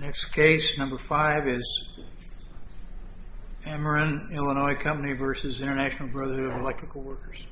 Next case, number 5 is Ameren Illinois Company v. International Brotherhood of Electrical Workers.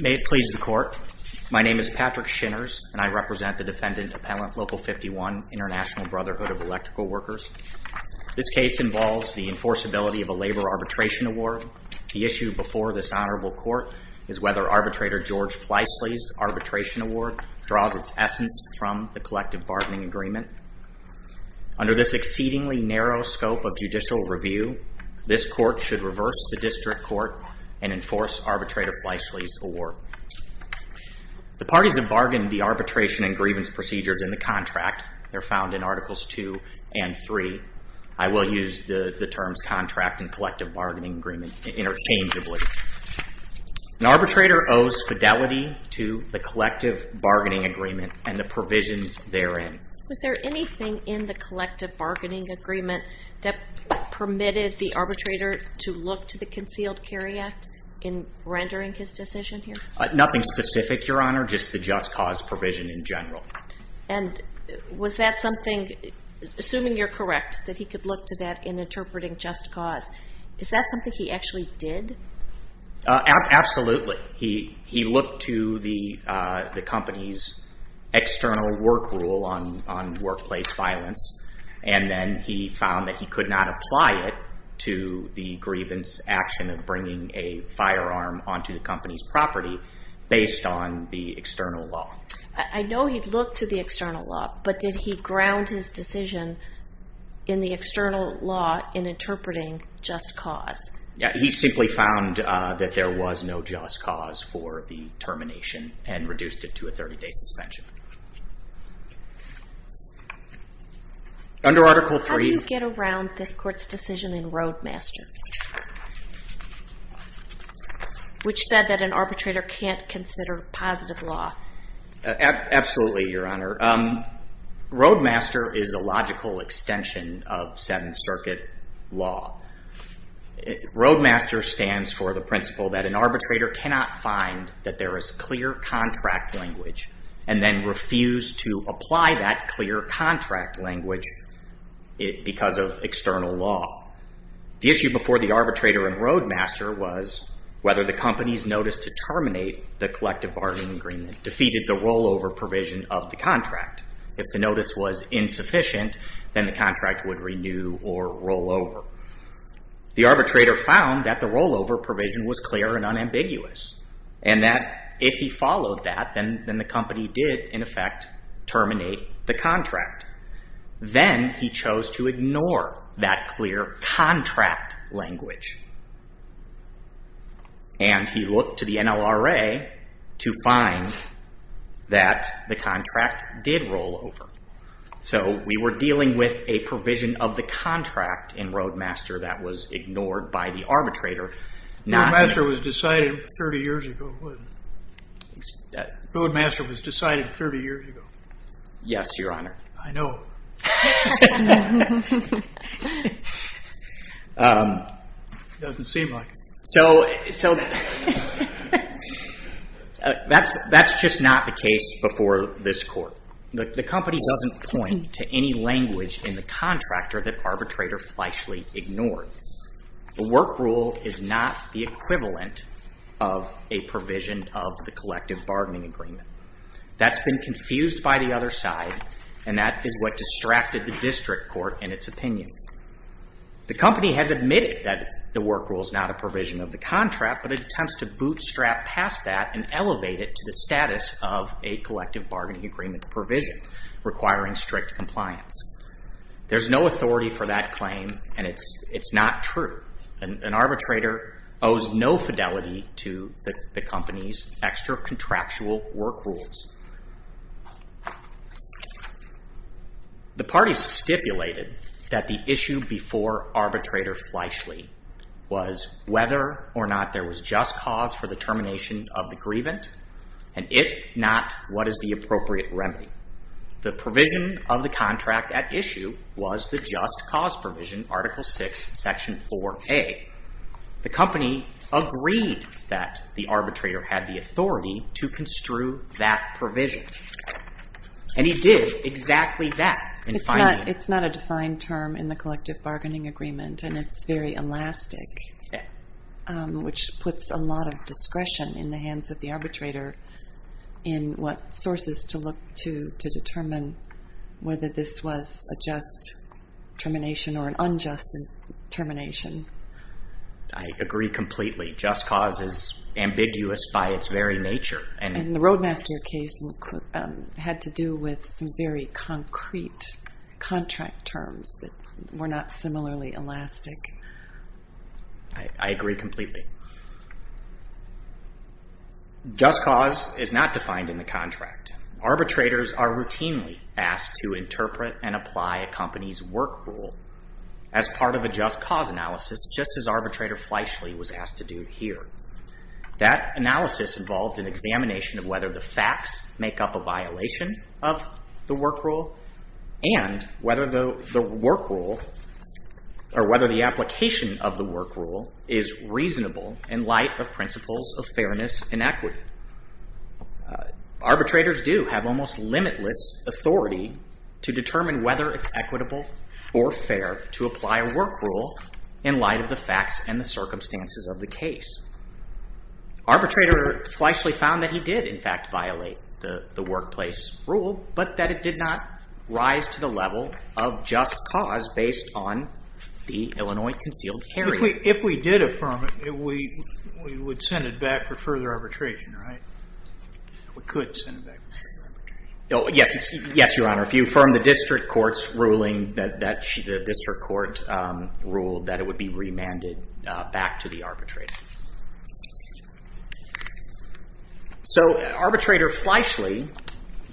May it please the court, my name is Patrick Shinners and I represent the defendant Appellant Local 51, International Brotherhood of Electrical Workers. This case involves the enforceability of a labor arbitration award. The issue before this honorable court is whether arbitrator George Fleisley's arbitration award draws its essence from the collective bargaining agreement. Under this exceedingly narrow scope of judicial review, this court should reverse the district court and enforce arbitrator Fleisley's award. The parties have bargained the arbitration and grievance procedures in the contract. They're found in Articles 2 and 3. I will use the terms contract and collective bargaining agreement interchangeably. An arbitrator owes fidelity to the collective bargaining agreement and the provisions therein. Was there anything in the collective bargaining agreement that permitted the arbitrator to look to the Concealed Carry Act in rendering his decision here? Nothing specific, your honor, just the just cause provision in general. And was that something, assuming you're correct, that he could look to that in interpreting just cause? Is that something he actually did? Absolutely. He looked to the company's external work rule on workplace violence and then he found that he could not apply it to the grievance action of bringing a firearm onto the company's property based on the external law. I know he'd looked to the external law, but did he ground his decision in the external law in interpreting just cause? Yeah, he simply found that there was no just cause for the termination and reduced it to a 30-day suspension. Under Article 3... How do you get around this court's decision in Roadmaster, which said that an arbitrator can't consider positive law? Absolutely, your honor. Roadmaster is a logical extension of Seventh Circuit law. Roadmaster stands for the principle that an arbitrator cannot find that there is clear contract language and then refuse to apply that clear contract language because of external law. The issue before the arbitrator in Roadmaster was whether the company's notice to terminate the collective bargaining agreement defeated the rollover provision of the contract. If the notice was insufficient, then the contract would renew or rollover. The arbitrator found that the rollover provision was clear and unambiguous and that if he followed that, then the company did in effect terminate the contract. Then he chose to ignore that clear contract language and he looked to the NLRA to find that the contract did rollover. So we were dealing with a provision of the contract in Roadmaster that was ignored by the arbitrator. Roadmaster was decided 30 years ago, wasn't it? Roadmaster was decided 30 years ago. Yes, your honor. I know. It doesn't seem like it. So that's just not the case before this court. The company doesn't point to any language in the contractor that arbitrator fleshly ignored. The work rule is not the equivalent of a provision of the collective bargaining agreement. That's been confused by the other side and that is what distracted the district court in its opinion. The company has admitted that the work rule is not a provision of the contract but it attempts to bootstrap past that and elevate it to the status of a collective bargaining agreement provision requiring strict compliance. There's no authority for that claim and it's not true. An arbitrator owes no fidelity to the company's extra contractual work rules. The parties stipulated that the issue before arbitrator fleshly was whether or not there was just cause for the termination of the grievant and if not, what is the appropriate remedy? The provision of the contract at issue was the just cause provision, Article 6, Section 4A. The company agreed that the arbitrator had the authority to construe that provision and he did exactly that. It's not a defined term in the collective bargaining agreement and it's very elastic which puts a lot of discretion in the hands of the arbitrator in what sources to look to to determine whether this was a just termination or an unjust termination. I agree completely. Just cause is ambiguous by its very nature. And the Roadmaster case had to do with some very concrete contract terms that were not similarly elastic. I agree completely. Just cause is not defined in the contract. Arbitrators are routinely asked to interpret and apply a company's work rule as part of a just cause analysis just as arbitrator fleshly was asked to do here. That analysis involves an examination of whether the facts make up a violation of the work rule and whether the work rule or whether the application of the work rule is reasonable in light of principles of fairness and equity. Arbitrators do have almost limitless authority to determine whether it's equitable or fair to apply a work rule in light of the facts and the circumstances of the case. Arbitrator fleshly found that he did in fact violate the workplace rule but that it did not rise to the level of just cause based on the Illinois concealed carry. If we did affirm it, we would send it back for further arbitration, right? We could send it back for further arbitration. Yes, Your Honor. If you affirm the district court's ruling that the district court ruled that it would be remanded back to the arbitrator. So arbitrator fleshly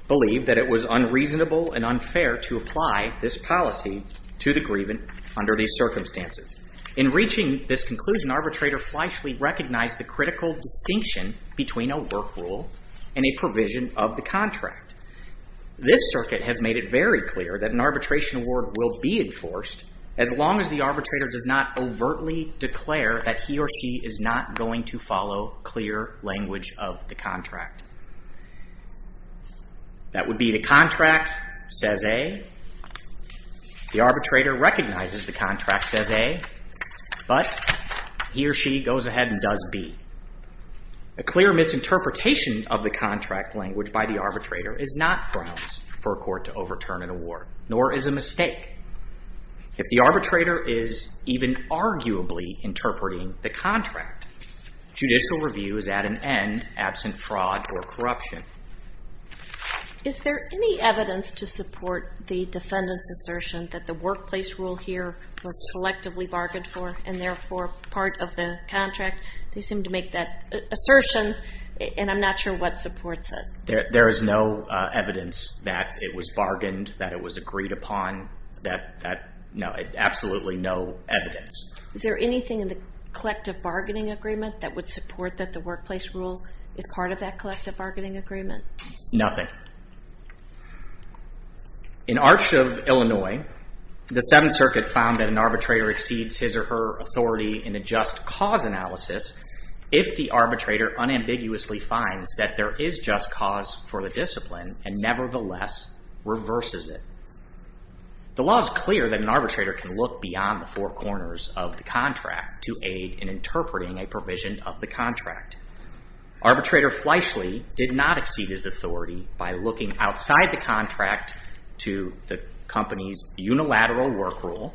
believed that it was unreasonable and unfair to apply this policy to the grievant under these circumstances. In reaching this conclusion, arbitrator fleshly recognized the critical distinction between a work rule and a provision of the contract. This circuit has made it very clear that an arbitration award will be enforced as long as the arbitrator does not overtly declare that he or she is not going to follow clear language of the contract. That would be the contract says A. The arbitrator recognizes the contract says A but he or she goes ahead and does B. A clear misinterpretation of the contract language by the arbitrator is not grounds for a court to overturn an award nor is a mistake. If the arbitrator is even arguably interpreting the contract, judicial review is at an end absent fraud or corruption. Is there any evidence to support the defendant's assertion that the workplace rule here was collectively bargained for and therefore part of the contract? They seem to make that assertion and I'm not sure what supports it. There is no evidence that it was bargained, that it was agreed upon, absolutely no evidence. Is there anything in the collective bargaining agreement that would support that the workplace rule is part of that collective bargaining agreement? Nothing. In Arch of Illinois, the Seventh Circuit found that an arbitrator exceeds his or her authority in a just cause analysis if the arbitrator unambiguously finds that there is just cause for the discipline and nevertheless reverses it. The law is clear that an arbitrator can look beyond the four corners of the contract to aid in interpreting a provision of the contract. Arbitrator Fleishley did not exceed his authority by looking outside the contract to the company's unilateral work rule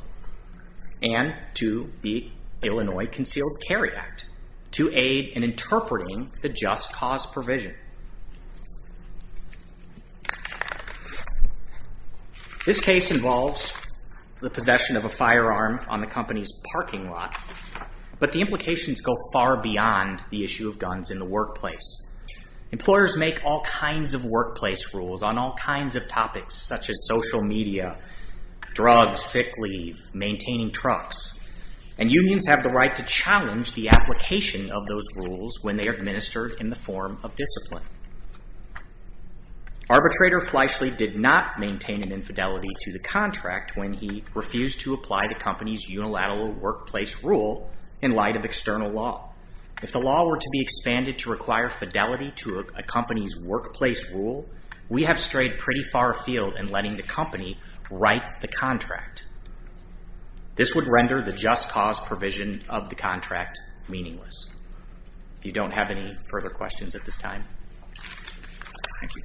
and to the Illinois Concealed Carry Act to aid in interpreting the just cause provision. This case involves the possession of a firearm on the company's parking lot, but the implications go far beyond the issue of guns in the workplace. Employers make all kinds of workplace rules on all kinds of topics such as social media, drugs, sick leave, maintaining trucks, and unions have the right to challenge the application of those rules when they are administered in the form of discipline. Arbitrator Fleishley did not maintain an infidelity to the contract when he refused to apply the company's unilateral workplace rule in light of external law. If the law were to be expanded to require fidelity to a company's workplace rule, we have strayed pretty far afield in letting the company write the contract. This would render the just cause provision of the contract meaningless. If you don't have any further questions at this time, thank you.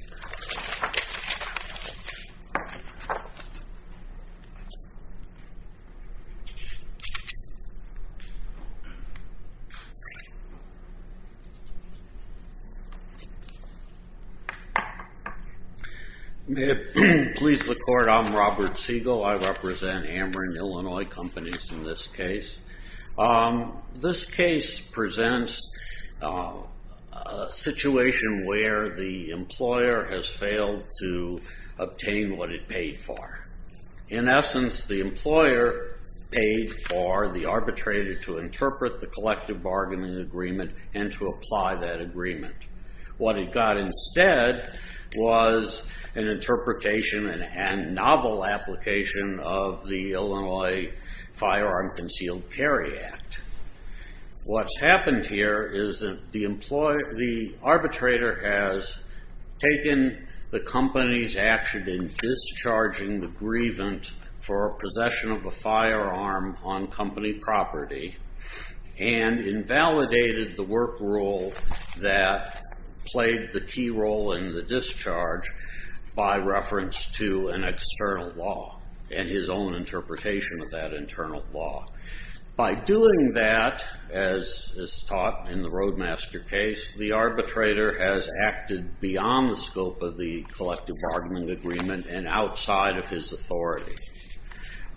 Please look forward. I'm Robert Siegel. I represent Ameren Illinois Companies in this case. This case presents a situation where the employer has failed to obtain what it paid for. In essence, the employer paid for the arbitrator What it got instead was an interpretation and novel application of the Illinois Firearm Concealed Carry Act. What's happened here is that the arbitrator has taken the company's action in discharging the grievant for possession of a firearm on company property and invalidated the work rule that played the key role in the discharge by reference to an external law and his own interpretation of that internal law. By doing that, as is taught in the Roadmaster case, the arbitrator has acted beyond the scope of the collective argument agreement and outside of his authority.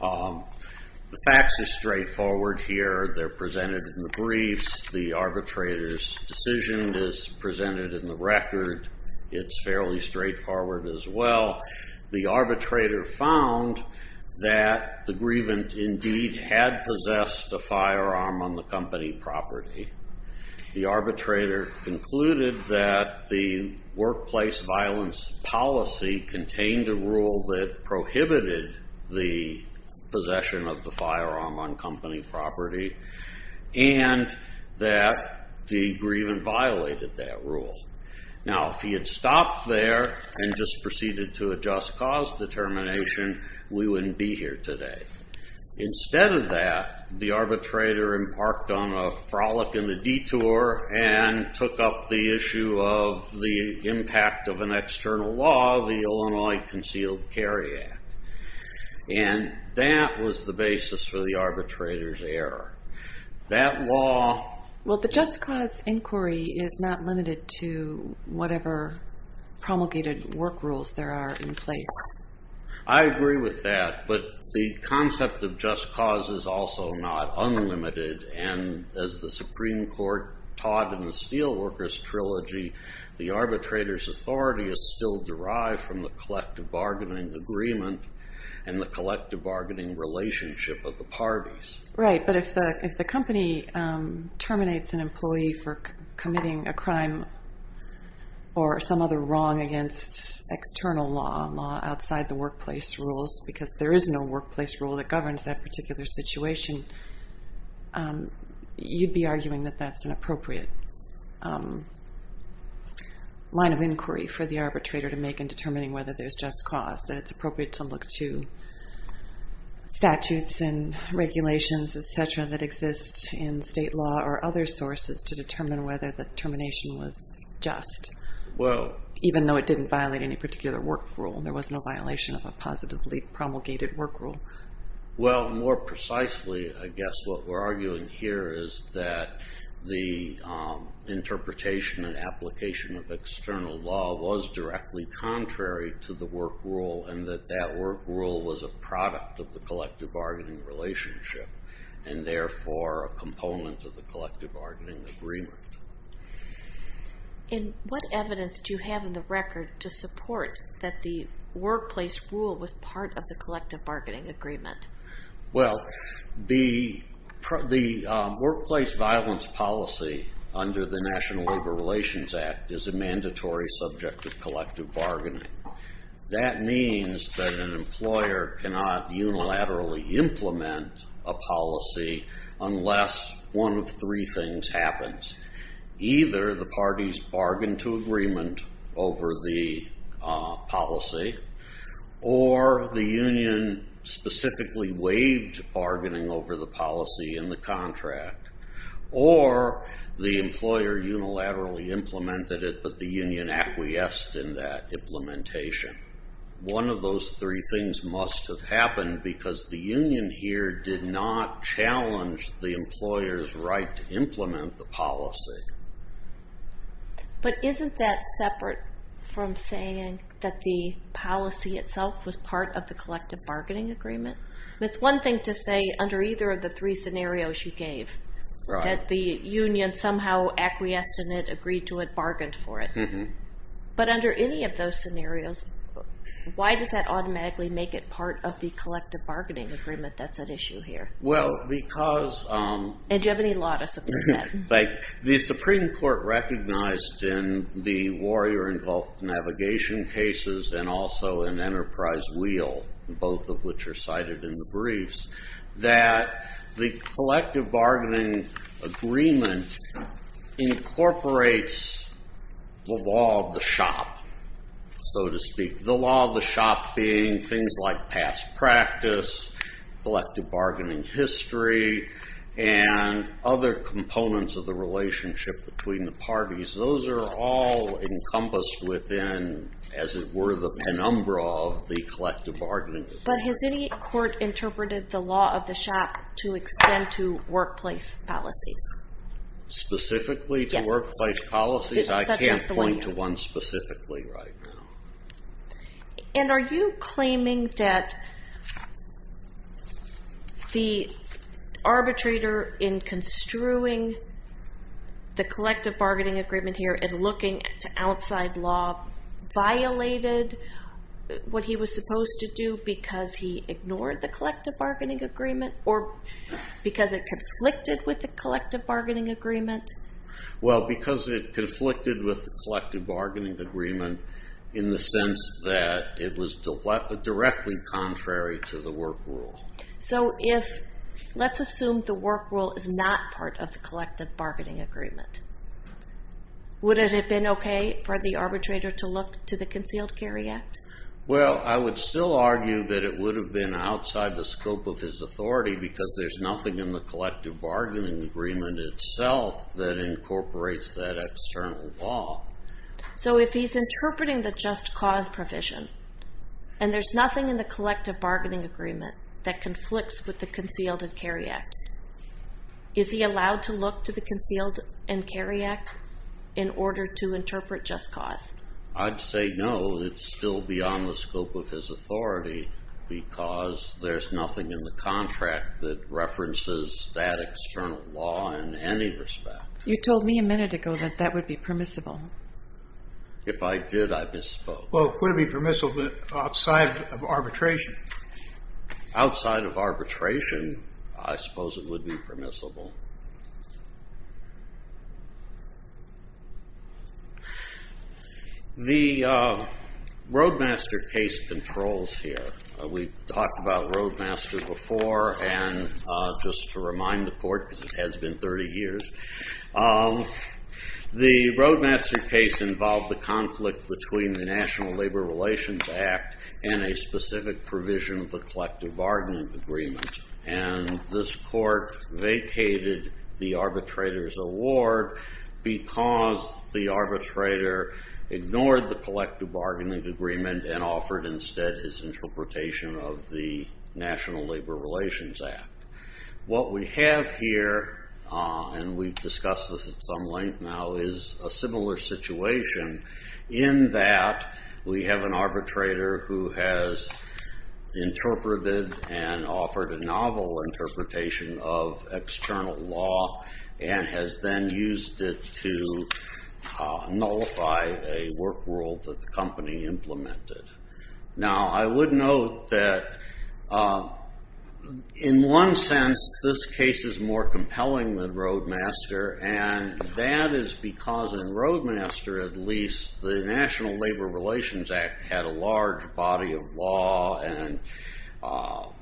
The facts are straightforward here. They're presented in the briefs. The arbitrator's decision is presented in the record. It's fairly straightforward as well. The arbitrator found that the grievant indeed had possessed a firearm on the company property. The arbitrator concluded that the workplace violence policy contained a rule that prohibited the possession of the firearm on company property and that the grievant violated that rule. Now, if he had stopped there and just proceeded to adjust cause determination, we wouldn't be here today. Instead of that, the arbitrator embarked on a frolic in the detour and took up the issue of the impact of an external law, the Illinois Concealed Carry Act, and that was the basis for the arbitrator's error. That law... Well, the just cause inquiry is not limited to whatever promulgated work rules there are in place. I agree with that, but the concept of just cause is also not unlimited, and as the Supreme Court taught in the Steelworkers Trilogy, the arbitrator's authority is still derived from the collective bargaining agreement and the collective bargaining relationship of the parties. Right, but if the company terminates an employee for committing a crime or some other wrong against external law, outside the workplace rules, because there is no workplace rule that governs that particular situation, you'd be arguing that that's an appropriate line of inquiry for the arbitrator to make in determining whether there's just cause, that it's appropriate to look to statutes and regulations, et cetera, that exist in state law or other sources to determine whether the termination was just, even though it didn't violate any particular work rule. There was no violation of a positively promulgated work rule. Well, more precisely, I guess what we're arguing here is that the interpretation and application of external law was directly contrary to the work rule and that that work rule was a product of the collective bargaining relationship and therefore a component of the collective bargaining agreement. And what evidence do you have in the record to support that the workplace rule was part of the collective bargaining agreement? Well, the workplace violence policy under the National Labor Relations Act is a mandatory subject of collective bargaining. That means that an employer cannot unilaterally implement a policy unless one of three things happens. Either the parties bargain to agreement over the policy or the union specifically waived bargaining over the policy in the contract or the employer unilaterally implemented it but the union acquiesced in that implementation. One of those three things must have happened because the union here did not challenge the employer's right to implement the policy. But isn't that separate from saying that the policy itself was part of the collective bargaining agreement? It's one thing to say under either of the three scenarios you gave that the union somehow acquiesced in it, agreed to it, bargained for it. But under any of those scenarios, why does that automatically make it part of the collective bargaining agreement that's at issue here? And do you have any law to support that? The Supreme Court recognized in the Warrior and Gulf Navigation cases and also in Enterprise Wheel, both of which are cited in the briefs, that the collective bargaining agreement incorporates the law of the shop, so to speak. The law of the shop being things like past practice, collective bargaining history, and other components of the relationship between the parties, those are all encompassed within, as it were, the penumbra of the collective bargaining agreement. But has any court interpreted the law of the shop to extend to workplace policies? Specifically to workplace policies? I can't point to one specifically right now. And are you claiming that the arbitrator in construing the collective bargaining agreement here and looking to outside law violated what he was supposed to do because he ignored the collective bargaining agreement or because it conflicted with the collective bargaining agreement? Well, because it conflicted with the collective bargaining agreement in the sense that it was directly contrary to the work rule. So let's assume the work rule is not part of the collective bargaining agreement. Would it have been okay for the arbitrator to look to the Concealed Carry Act? Well, I would still argue that it would have been outside the scope of his authority because there's nothing in the collective bargaining agreement itself that incorporates that external law. So if he's interpreting the just cause provision and there's nothing in the collective bargaining agreement that conflicts with the Concealed Carry Act, is he allowed to look to the Concealed Carry Act in order to interpret just cause? I'd say no, it's still beyond the scope of his authority because there's nothing in the contract that references that external law in any respect. You told me a minute ago that that would be permissible. If I did, I misspoke. Well, it wouldn't be permissible outside of arbitration. The Roadmaster case controls here. We talked about Roadmaster before, and just to remind the court because it has been 30 years, the Roadmaster case involved the conflict between the National Labor Relations Act and a specific provision of the collective bargaining agreement. And this court vacated the arbitrator's award because the arbitrator ignored the collective bargaining agreement and offered instead his interpretation of the National Labor Relations Act. What we have here, and we've discussed this at some length now, is a similar situation in that we have an arbitrator who has interpreted and offered a novel interpretation of external law and has then used it to nullify a work world that the company implemented. Now, I would note that in one sense this case is more compelling than Roadmaster, and that is because in Roadmaster, at least, the National Labor Relations Act had a large body of law and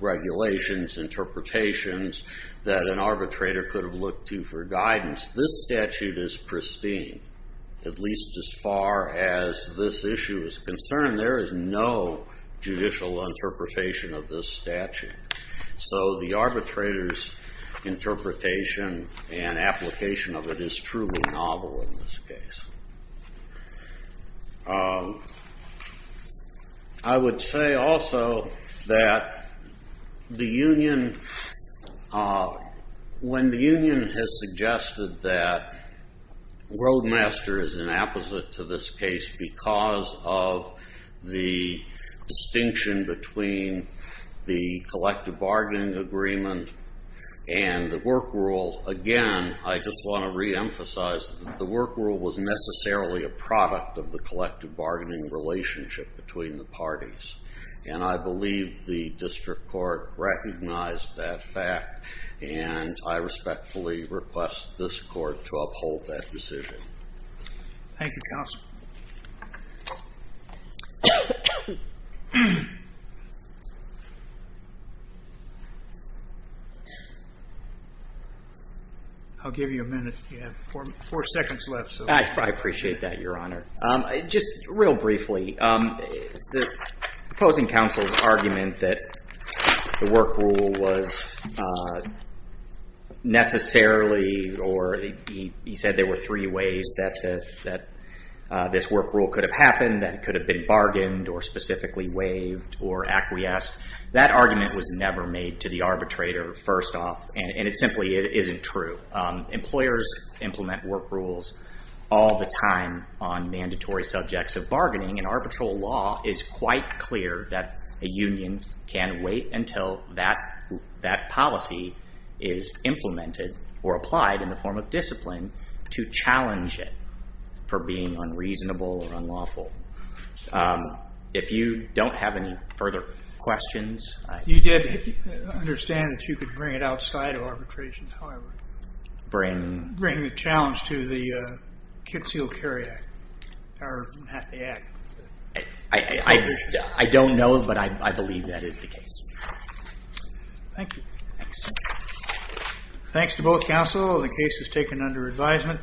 regulations, interpretations that an arbitrator could have looked to for guidance. This statute is pristine. At least as far as this issue is concerned, there is no judicial interpretation of this statute. So the arbitrator's interpretation and application of it is truly novel in this case. I would say also that the union, when the union has suggested that Roadmaster is an opposite to this case because of the distinction between the collective bargaining agreement and the work world, again, I just want to reemphasize that the work world was necessarily a product of the collective bargaining relationship between the parties, and I believe the district court recognized that fact, and I respectfully request this court to uphold that decision. Thank you, counsel. I'll give you a minute. You have four seconds left. I appreciate that, Your Honor. Just real briefly, the opposing counsel's argument that the work rule was necessarily or he said there were three ways that this work rule could have happened, that it could have been bargained or specifically waived or acquiesced, that argument was never made to the arbitrator first off, and it simply isn't true. Employers implement work rules all the time on mandatory subjects of bargaining, and arbitral law is quite clear that a union can wait until that policy is implemented or applied in the form of discipline to challenge it for being unreasonable or unlawful. If you don't have any further questions... You did understand that you could bring it outside of arbitration, however. Bring... Bring the challenge to the Kitsille-Curry Act or the Act. I don't know, but I believe that is the case. Thank you. Thanks. Thanks to both counsel. The case is taken under advisement.